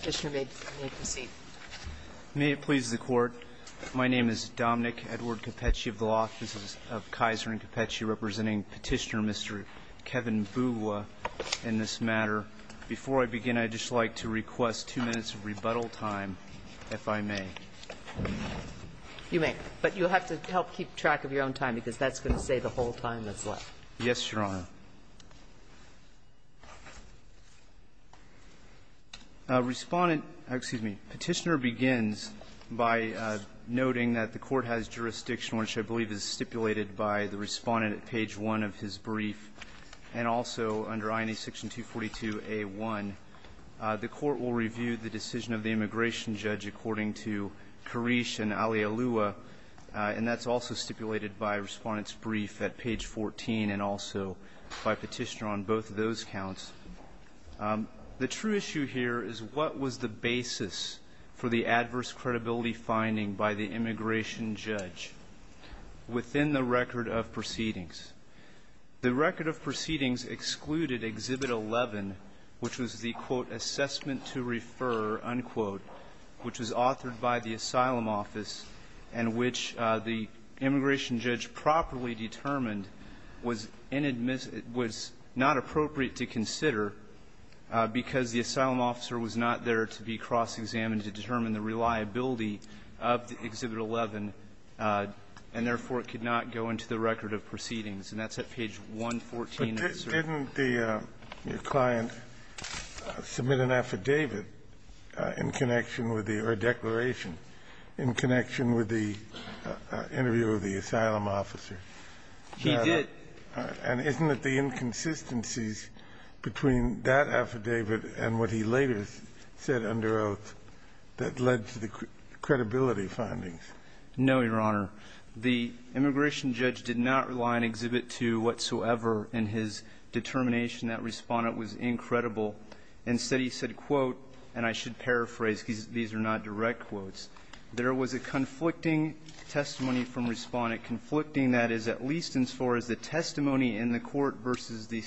Petitioner may proceed. May it please the Court. My name is Dominic Edward Capecci of the Office of Kaiser and Capecci, representing Petitioner Mr. Kevin Mbugua in this matter. Before I begin, I'd just like to request two minutes of rebuttal time, if I may. You may. But you'll have to help keep track of your own time, because that's going to say the whole time that's left. Yes, Your Honor. Respondent, excuse me, Petitioner begins by noting that the court has jurisdiction, which I believe is stipulated by the respondent at page one of his brief. And also under INA section 242A1, the court will review the decision of the immigration judge according to Koresh and Alialua. And that's also stipulated by respondent's brief at page 14 and also by petitioner on both of those counts. The true issue here is what was the basis for the adverse credibility finding by the immigration judge within the record of proceedings? The record of proceedings excluded Exhibit 11, which was the, quote, assessment to refer, unquote, which was authored by the asylum office. And which the immigration judge properly determined was not appropriate to consider because the asylum officer was not there to be cross-examined to determine the reliability of the Exhibit 11, and therefore, it could not go into the record of proceedings. And that's at page 114 of his brief. But didn't the client submit an affidavit in connection with the or a declaration in connection with the interview of the asylum officer? He did. And isn't it the inconsistencies between that affidavit and what he later said under oath that led to the credibility findings? No, Your Honor. The immigration judge did not rely on Exhibit 2 whatsoever in his determination. That respondent was incredible. Instead, he said, quote, and I should paraphrase, these are not direct quotes. There was a conflicting testimony from respondent, conflicting, that is, at least as far as the testimony in the court versus the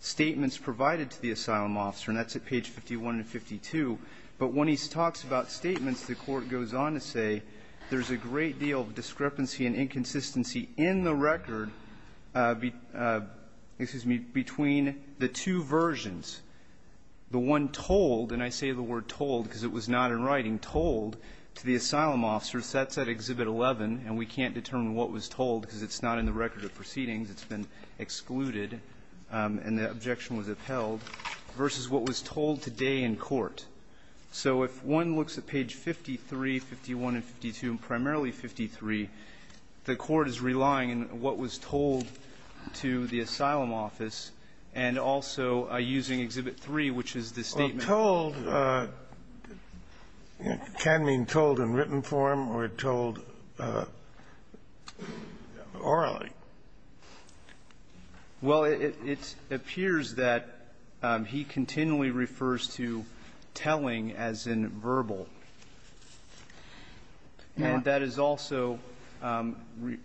statements provided to the asylum officer. And that's at page 51 and 52. But when he talks about statements, the court goes on to say there's a great deal of discrepancy and inconsistency in the record, excuse me, between the two versions. The one told, and I say the word told because it was not in writing, told to the asylum officer. That's at Exhibit 11, and we can't determine what was told because it's not in the record of proceedings, it's been excluded, and the objection was upheld, versus what was told today in court. So if one looks at page 53, 51, and 52, and primarily 53, the court is relying in what was told to the asylum office and also using Exhibit 3, which is the statement that was told, can mean told in written form or told orally. Well, it appears that he continually refers to telling as in verbal. And that is also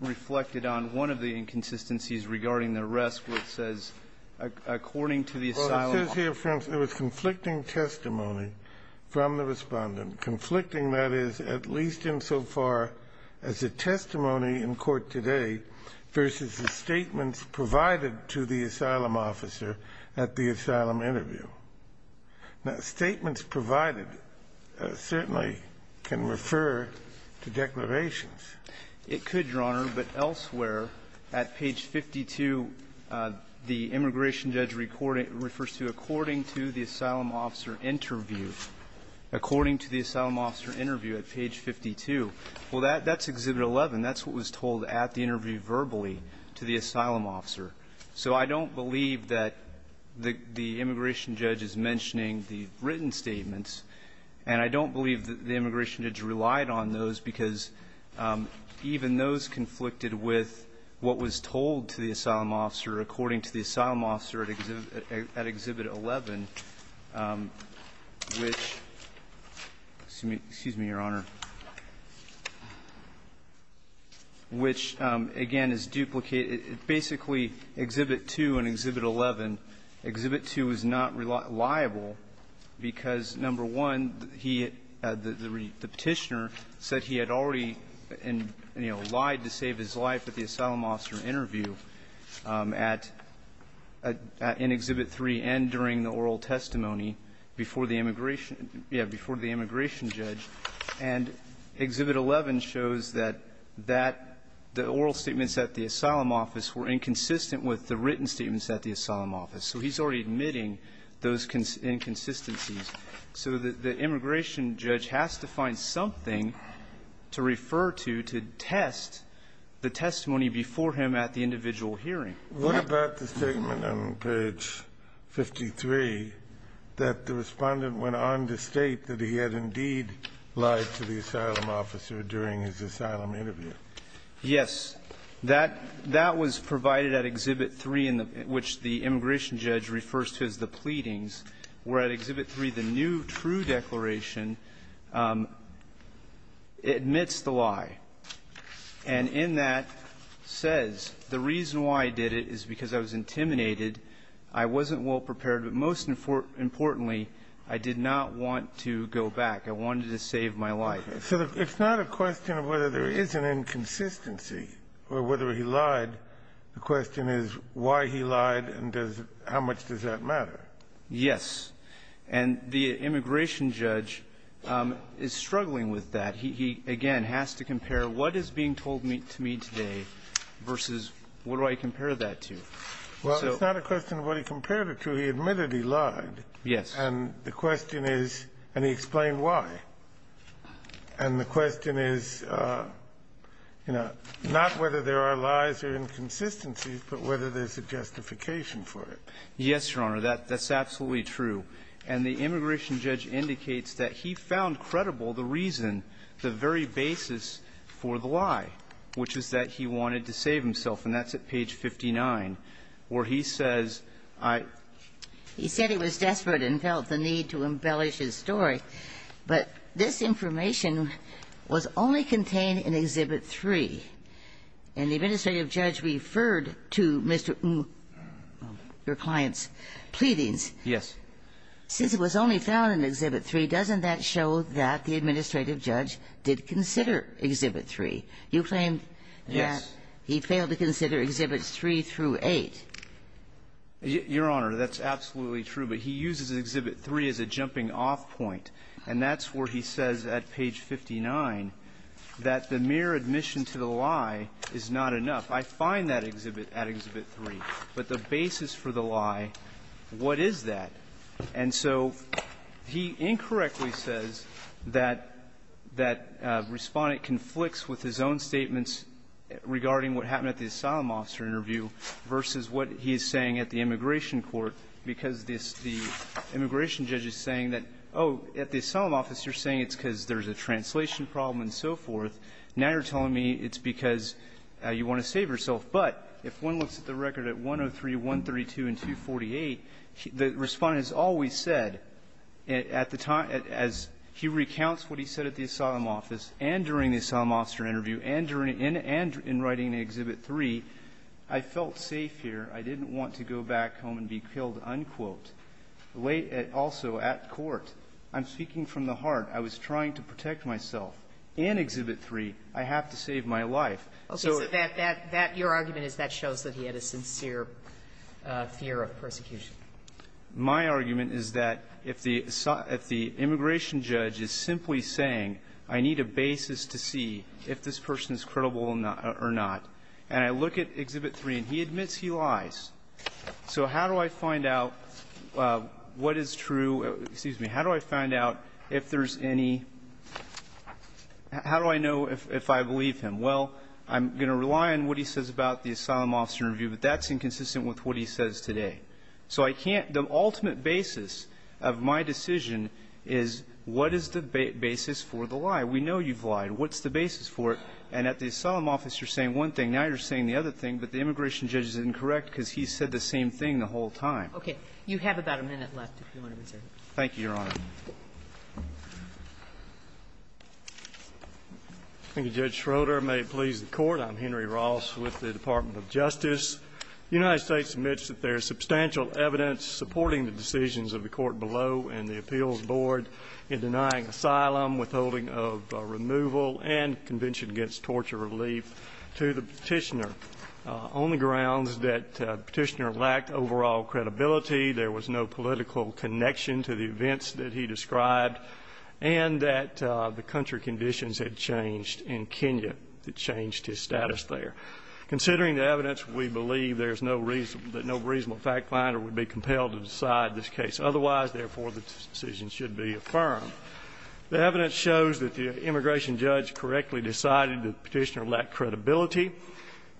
reflected on one of the inconsistencies regarding the rest, which is that it was conflicting testimony from the Respondent, conflicting that is at least insofar as the testimony in court today versus the statements provided to the asylum officer at the asylum interview. Now, statements provided certainly can refer to declarations. It could, Your Honor, but elsewhere at page 52, the immigration judge recorded that it refers to according to the asylum officer interview, according to the asylum officer interview at page 52, well, that's Exhibit 11. That's what was told at the interview verbally to the asylum officer. So I don't believe that the immigration judge is mentioning the written statements, and I don't believe that the immigration judge relied on those because even those were at Exhibit 11, which, excuse me, Your Honor, which, again, is duplicated – basically, Exhibit 2 and Exhibit 11, Exhibit 2 is not reliable because, number one, he – the Petitioner said he had already, you know, lied to save his life at the oral testimony before the immigration – yeah, before the immigration judge. And Exhibit 11 shows that that – the oral statements at the asylum office were inconsistent with the written statements at the asylum office. So he's already admitting those inconsistencies. So the immigration judge has to find something to refer to to test the testimony before him at the individual hearing. What about the statement on page 53 that the Respondent went on to state that he had indeed lied to the asylum officer during his asylum interview? Yes. That – that was provided at Exhibit 3, which the immigration judge refers to as the pleadings, where at Exhibit 3, the new true declaration admits the lie. And in that says, the reason why I did it is because I was intimidated, I wasn't well-prepared, but most importantly, I did not want to go back. I wanted to save my life. So it's not a question of whether there is an inconsistency or whether he lied. The question is why he lied and does – how much does that matter? Yes. And the immigration judge is struggling with that. He, again, has to compare what is being told to me today versus what do I compare that to. Well, it's not a question of what he compared it to. He admitted he lied. Yes. And the question is – and he explained why. And the question is, you know, not whether there are lies or inconsistencies, but whether there's a justification for it. Yes, Your Honor. That's absolutely true. And the immigration judge indicates that he found credible the reason, the very basis for the lie, which is that he wanted to save himself. And that's at page 59, where he says, I – He said he was desperate and felt the need to embellish his story. But this information was only contained in Exhibit 3. And the administrative judge referred to Mr. Ng, your client's pleadings. Yes. Since it was only found in Exhibit 3, doesn't that show that the administrative judge did consider Exhibit 3? You claim that he failed to consider Exhibits 3 through 8. Your Honor, that's absolutely true. But he uses Exhibit 3 as a jumping-off point. And that's where he says at page 59 that the mere admission to the lie is not enough. I find that exhibit at Exhibit 3. But the basis for the lie, what is that? And so he incorrectly says that that Respondent conflicts with his own statements regarding what happened at the asylum officer interview versus what he is saying at the immigration court, because this – the immigration judge is saying that, oh, at the asylum office, you're saying it's because there's a translation problem and so forth. Now you're telling me it's because you want to save yourself. But if one looks at the record at 103, 132, and 248, the Respondent has always said, at the time – as he recounts what he said at the asylum office and during the asylum officer interview and during – and in writing in Exhibit 3, I felt safe here. I didn't want to go back home and be killed, unquote. Late – also at court, I'm speaking from the heart. I was trying to protect myself. In Exhibit 3, I have to save my life. So that – that – your argument is that shows that he had a sincere fear of persecution. My argument is that if the – if the immigration judge is simply saying, I need a basis to see if this person is credible or not, and I look at Exhibit 3 and he admits he lies, so how do I find out what is true – excuse me – how do I find out if there's been any – how do I know if – if I believe him? Well, I'm going to rely on what he says about the asylum officer interview, but that's inconsistent with what he says today. So I can't – the ultimate basis of my decision is what is the basis for the lie? We know you've lied. What's the basis for it? And at the asylum office, you're saying one thing. Now you're saying the other thing, but the immigration judge is incorrect because he said the same thing the whole time. Kagan. You have about a minute left if you want to reserve it. Thank you, Your Honor. Thank you, Judge Schroeder. May it please the Court, I'm Henry Ross with the Department of Justice. The United States admits that there is substantial evidence supporting the decisions of the court below and the appeals board in denying asylum, withholding of removal, and convention against torture relief to the petitioner on the grounds that the petitioner lacked overall credibility. There was no political connection to the events that he described, and that the country conditions had changed in Kenya. It changed his status there. Considering the evidence, we believe there's no reason – that no reasonable fact-finder would be compelled to decide this case. Otherwise, therefore, the decision should be affirmed. The evidence shows that the immigration judge correctly decided the petitioner lacked credibility,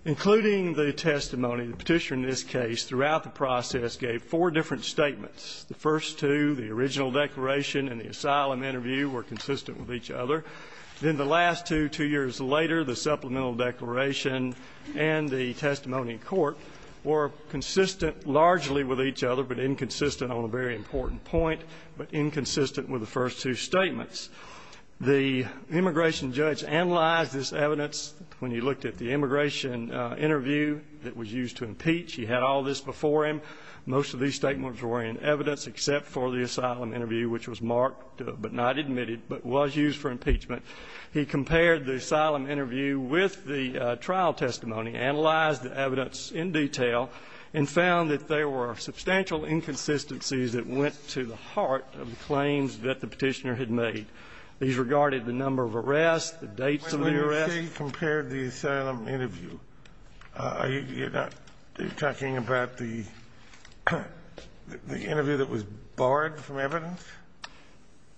including the testimony. The petitioner in this case, throughout the process, gave four different statements. The first two, the original declaration and the asylum interview, were consistent with each other. Then the last two, two years later, the supplemental declaration and the testimony in court were consistent largely with each other, but inconsistent on a very important point, but inconsistent with the first two statements. The immigration judge analyzed this evidence. When he looked at the immigration interview that was used to impeach, he had all this before him. Most of these statements were in evidence except for the asylum interview, which was marked, but not admitted, but was used for impeachment. He compared the asylum interview with the trial testimony, analyzed the evidence in detail, and found that there were substantial inconsistencies that went to the heart of the claims that the petitioner had made. These regarded the number of arrests, the dates of the arrests. The judge said he compared the asylum interview. Are you talking about the interview that was barred from evidence?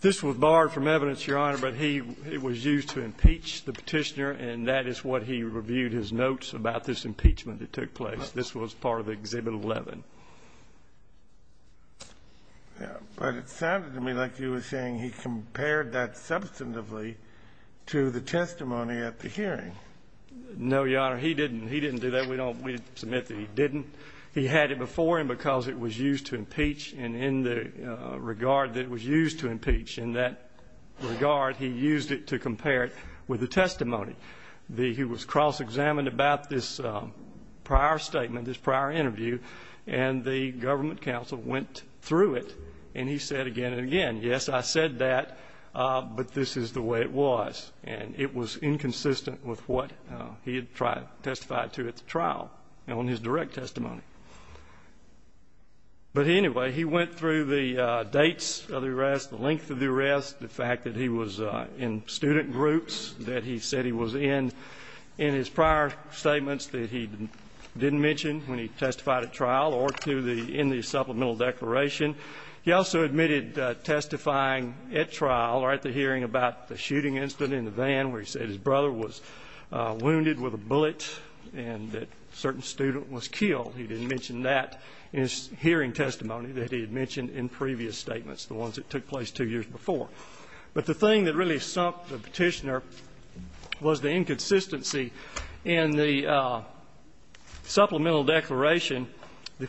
This was barred from evidence, Your Honor, but he was used to impeach the petitioner, and that is what he reviewed his notes about this impeachment that took place. This was part of Exhibit 11. But it sounded to me like you were saying he compared that substantively to the testimony at the hearing. No, Your Honor, he didn't. He didn't do that. We don't submit that he didn't. He had it before him because it was used to impeach, and in the regard that it was used to impeach, in that regard, he used it to compare it with the testimony. He was cross-examined about this prior statement, this prior interview, and the government counsel went through it, and he said again and again, yes, I said that, but this is the way it was, and it was inconsistent with what he had testified to at the trial on his direct testimony. But anyway, he went through the dates of the arrest, the length of the arrest, the fact that he was in student groups that he said he was in, in his prior statements that he didn't mention when he testified at trial, or in the supplemental declaration. He also admitted testifying at trial, or at the hearing about the shooting incident in the van where he said his brother was wounded with a bullet and that a certain student was killed. He didn't mention that in his hearing testimony that he had mentioned in previous statements, the ones that took place two years before. But the thing that really sumped the Petitioner was the inconsistency in the supplemental declaration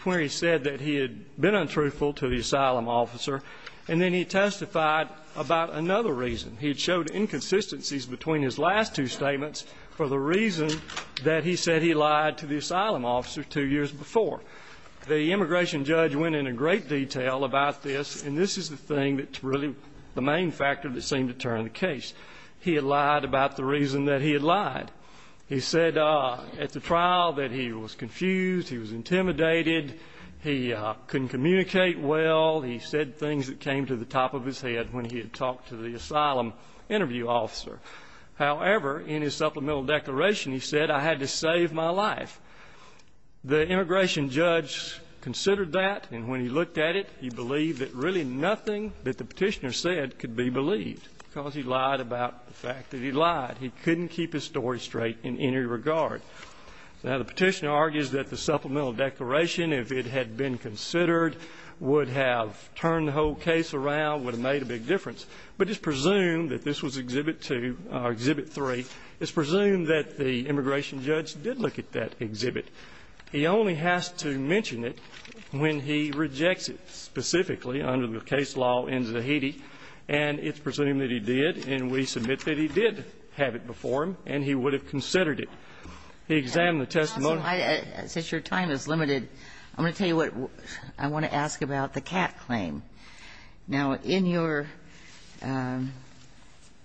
where he said that he had been untruthful to the asylum officer, and then he testified about another reason. He had showed inconsistencies between his last two statements for the reason that he said he lied to the asylum officer two years before. The immigration judge went into great detail about this, and this is the thing that's really the main factor that seemed to turn the case. He had lied about the reason that he had lied. He said at the trial that he was confused, he was intimidated, he couldn't communicate well, he said things that came to the top of his head when he had talked to the asylum interview officer. However, in his supplemental declaration, he said, I had to save my life. The immigration judge considered that, and when he looked at it, he believed that really nothing that the Petitioner said could be believed, because he lied about the fact that he lied. He couldn't keep his story straight in any regard. Now, the Petitioner argues that the supplemental declaration, if it had been considered, would have turned the whole case around, would have made a big difference. But it's presumed that this was exhibit two, or exhibit three. It's presumed that the immigration judge did look at that exhibit. He only has to mention it when he rejects it specifically under the case law in which the Petitioner would have had it before him, and he would have considered it. He examined the testimony. Since your time is limited, I'm going to tell you what I want to ask about the Katt claim. Now, in your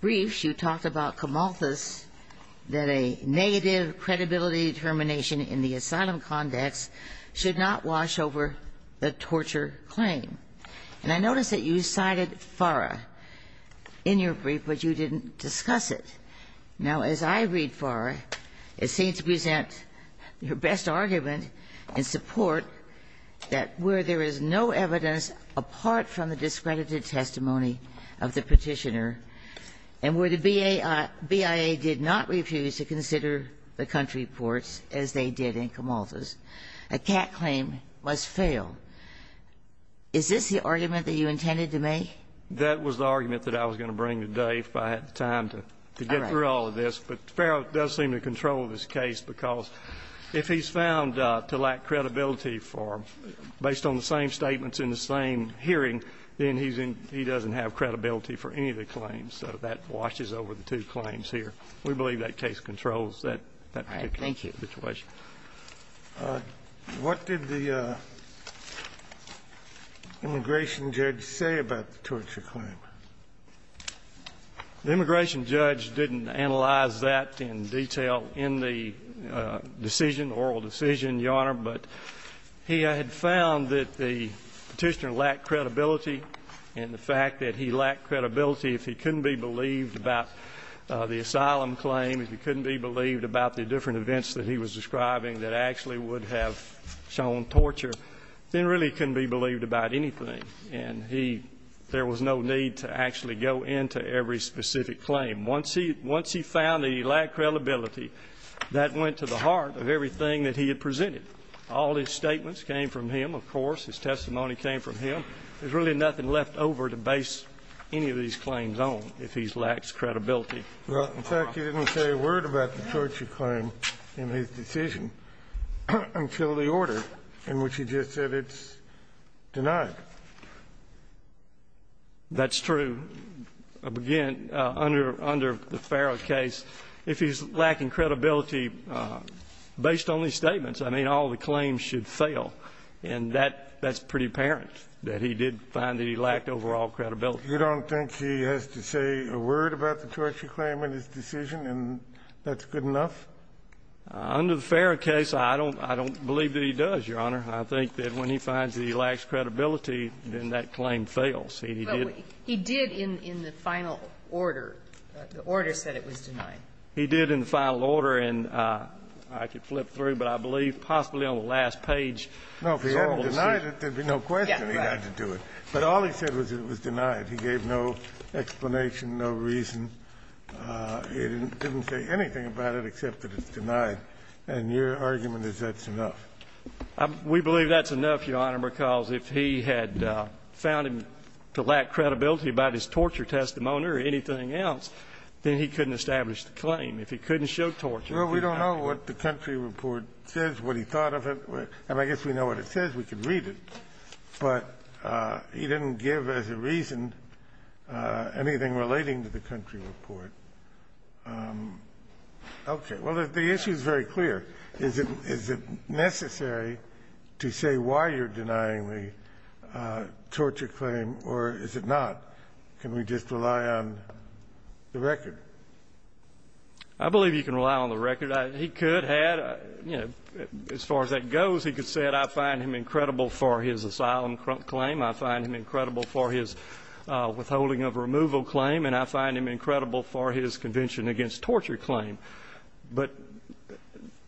briefs, you talked about Camalthus, that a negative credibility determination in the asylum context should not wash over the torture claim. And I notice that you cited FARA in your brief, but you didn't discuss it. Now, as I read FARA, it seems to present your best argument in support that where there is no evidence apart from the discredited testimony of the Petitioner and where the BIA did not refuse to consider the country reports as they did in Camalthus, a Katt claim must fail. Is this the argument that you intended to make? That was the argument that I was going to bring today if I had the time to get through all of this. But FARA does seem to control this case because if he's found to lack credibility for them, based on the same statements in the same hearing, then he doesn't have credibility for any of the claims. So that washes over the two claims here. We believe that case controls that particular situation. All right. Thank you. What did the immigration judge say about the torture claim? The immigration judge didn't analyze that in detail in the decision, oral decision, Your Honor, but he had found that the Petitioner lacked credibility and the fact that he lacked credibility if he couldn't be believed about the asylum claim, if he that actually would have shown torture, then really couldn't be believed about anything. And there was no need to actually go into every specific claim. Once he found that he lacked credibility, that went to the heart of everything that he had presented. All his statements came from him, of course. His testimony came from him. There's really nothing left over to base any of these claims on if he lacks credibility. Well, in fact, he didn't say a word about the torture claim in his decision until the order in which he just said it's denied. That's true. Again, under the Farrow case, if he's lacking credibility based on these statements, I mean, all the claims should fail. And that's pretty apparent, that he did find that he lacked overall credibility. You don't think he has to say a word about the torture claim in his decision and that's good enough? Under the Farrow case, I don't believe that he does, Your Honor. I think that when he finds that he lacks credibility, then that claim fails. He did in the final order. The order said it was denied. He did in the final order, and I could flip through, but I believe possibly on the last page. No, if he hadn't denied it, there'd be no question he had to do it. But all he said was it was denied. He gave no explanation, no reason. He didn't say anything about it except that it's denied. And your argument is that's enough. We believe that's enough, Your Honor, because if he had found him to lack credibility about his torture testimony or anything else, then he couldn't establish the claim. If he couldn't show torture, he could not. Well, we don't know what the country report says, what he thought of it. And I guess we know what it says. We can read it. But he didn't give as a reason anything relating to the country report. Okay, well, the issue is very clear. Is it necessary to say why you're denying the torture claim, or is it not? Can we just rely on the record? I believe you can rely on the record. He could have, as far as that goes, he could say that I find him incredible for his asylum claim, I find him incredible for his withholding of removal claim, and I find him incredible for his convention against torture claim. But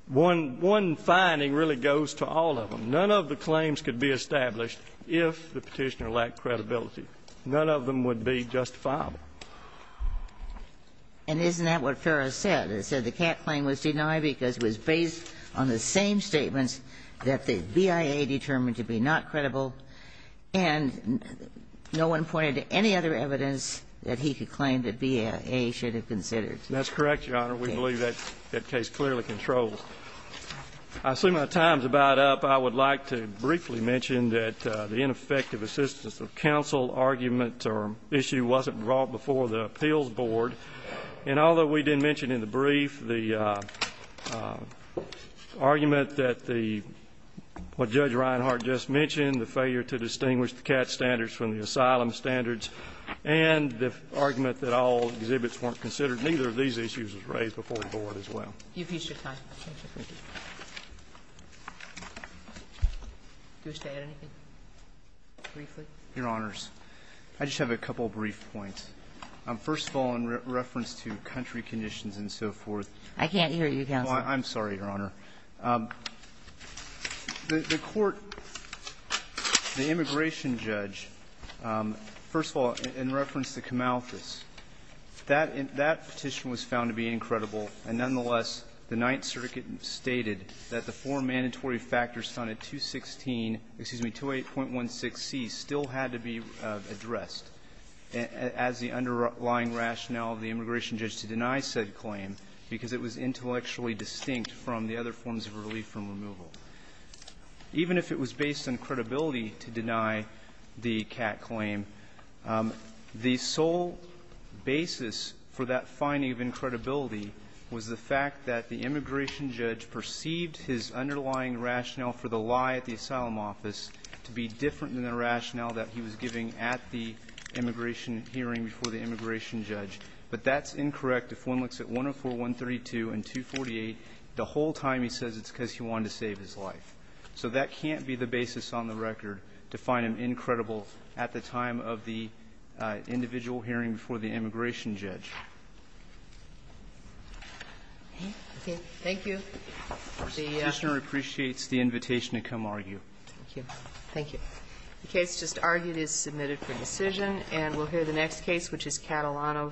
one finding really goes to all of them. None of the claims could be established if the petitioner lacked credibility. None of them would be justifiable. And isn't that what Ferris said? It said the Cat claim was denied because it was based on the same statements that the BIA determined to be not credible. And no one pointed to any other evidence that he could claim that BIA should have considered. That's correct, Your Honor. We believe that case clearly controls. I see my time's about up. I would like to briefly mention that the ineffective assistance of counsel argument or issue wasn't brought before the appeals board. And although we didn't mention in the brief the argument that the, what Judge Reinhart just mentioned, the failure to distinguish the Cat standards from the asylum standards, and the argument that all exhibits weren't considered, neither of these issues was raised before the board as well. You've used your time. Thank you. Do you wish to add anything, briefly? Your Honors, I just have a couple of brief points. First of all, in reference to country conditions and so forth. I can't hear you, counsel. I'm sorry, Your Honor. The court, the immigration judge, first of all, in reference to Kamalthus. That petition was found to be incredible. And nonetheless, the Ninth Circuit stated that the four mandatory factors found at 216, excuse me, 28.16c still had to be addressed. As the underlying rationale of the immigration judge to deny said claim, because it was intellectually distinct from the other forms of relief from removal. Even if it was based on credibility to deny the Cat claim, the sole basis for that finding of incredibility was the fact that the immigration judge perceived his underlying rationale for the lie at the asylum office to be different than the rationale that he was giving at the immigration hearing before the immigration judge. But that's incorrect if one looks at 104.132 and 248, the whole time he says it's because he wanted to save his life. So that can't be the basis on the record to find an incredible, at the time of the individual hearing before the immigration judge. Thank you. The- The commissioner appreciates the invitation to come argue. Thank you. Thank you. The case just argued is submitted for decision, and we'll hear the next case, which is Catalano v. Astruz.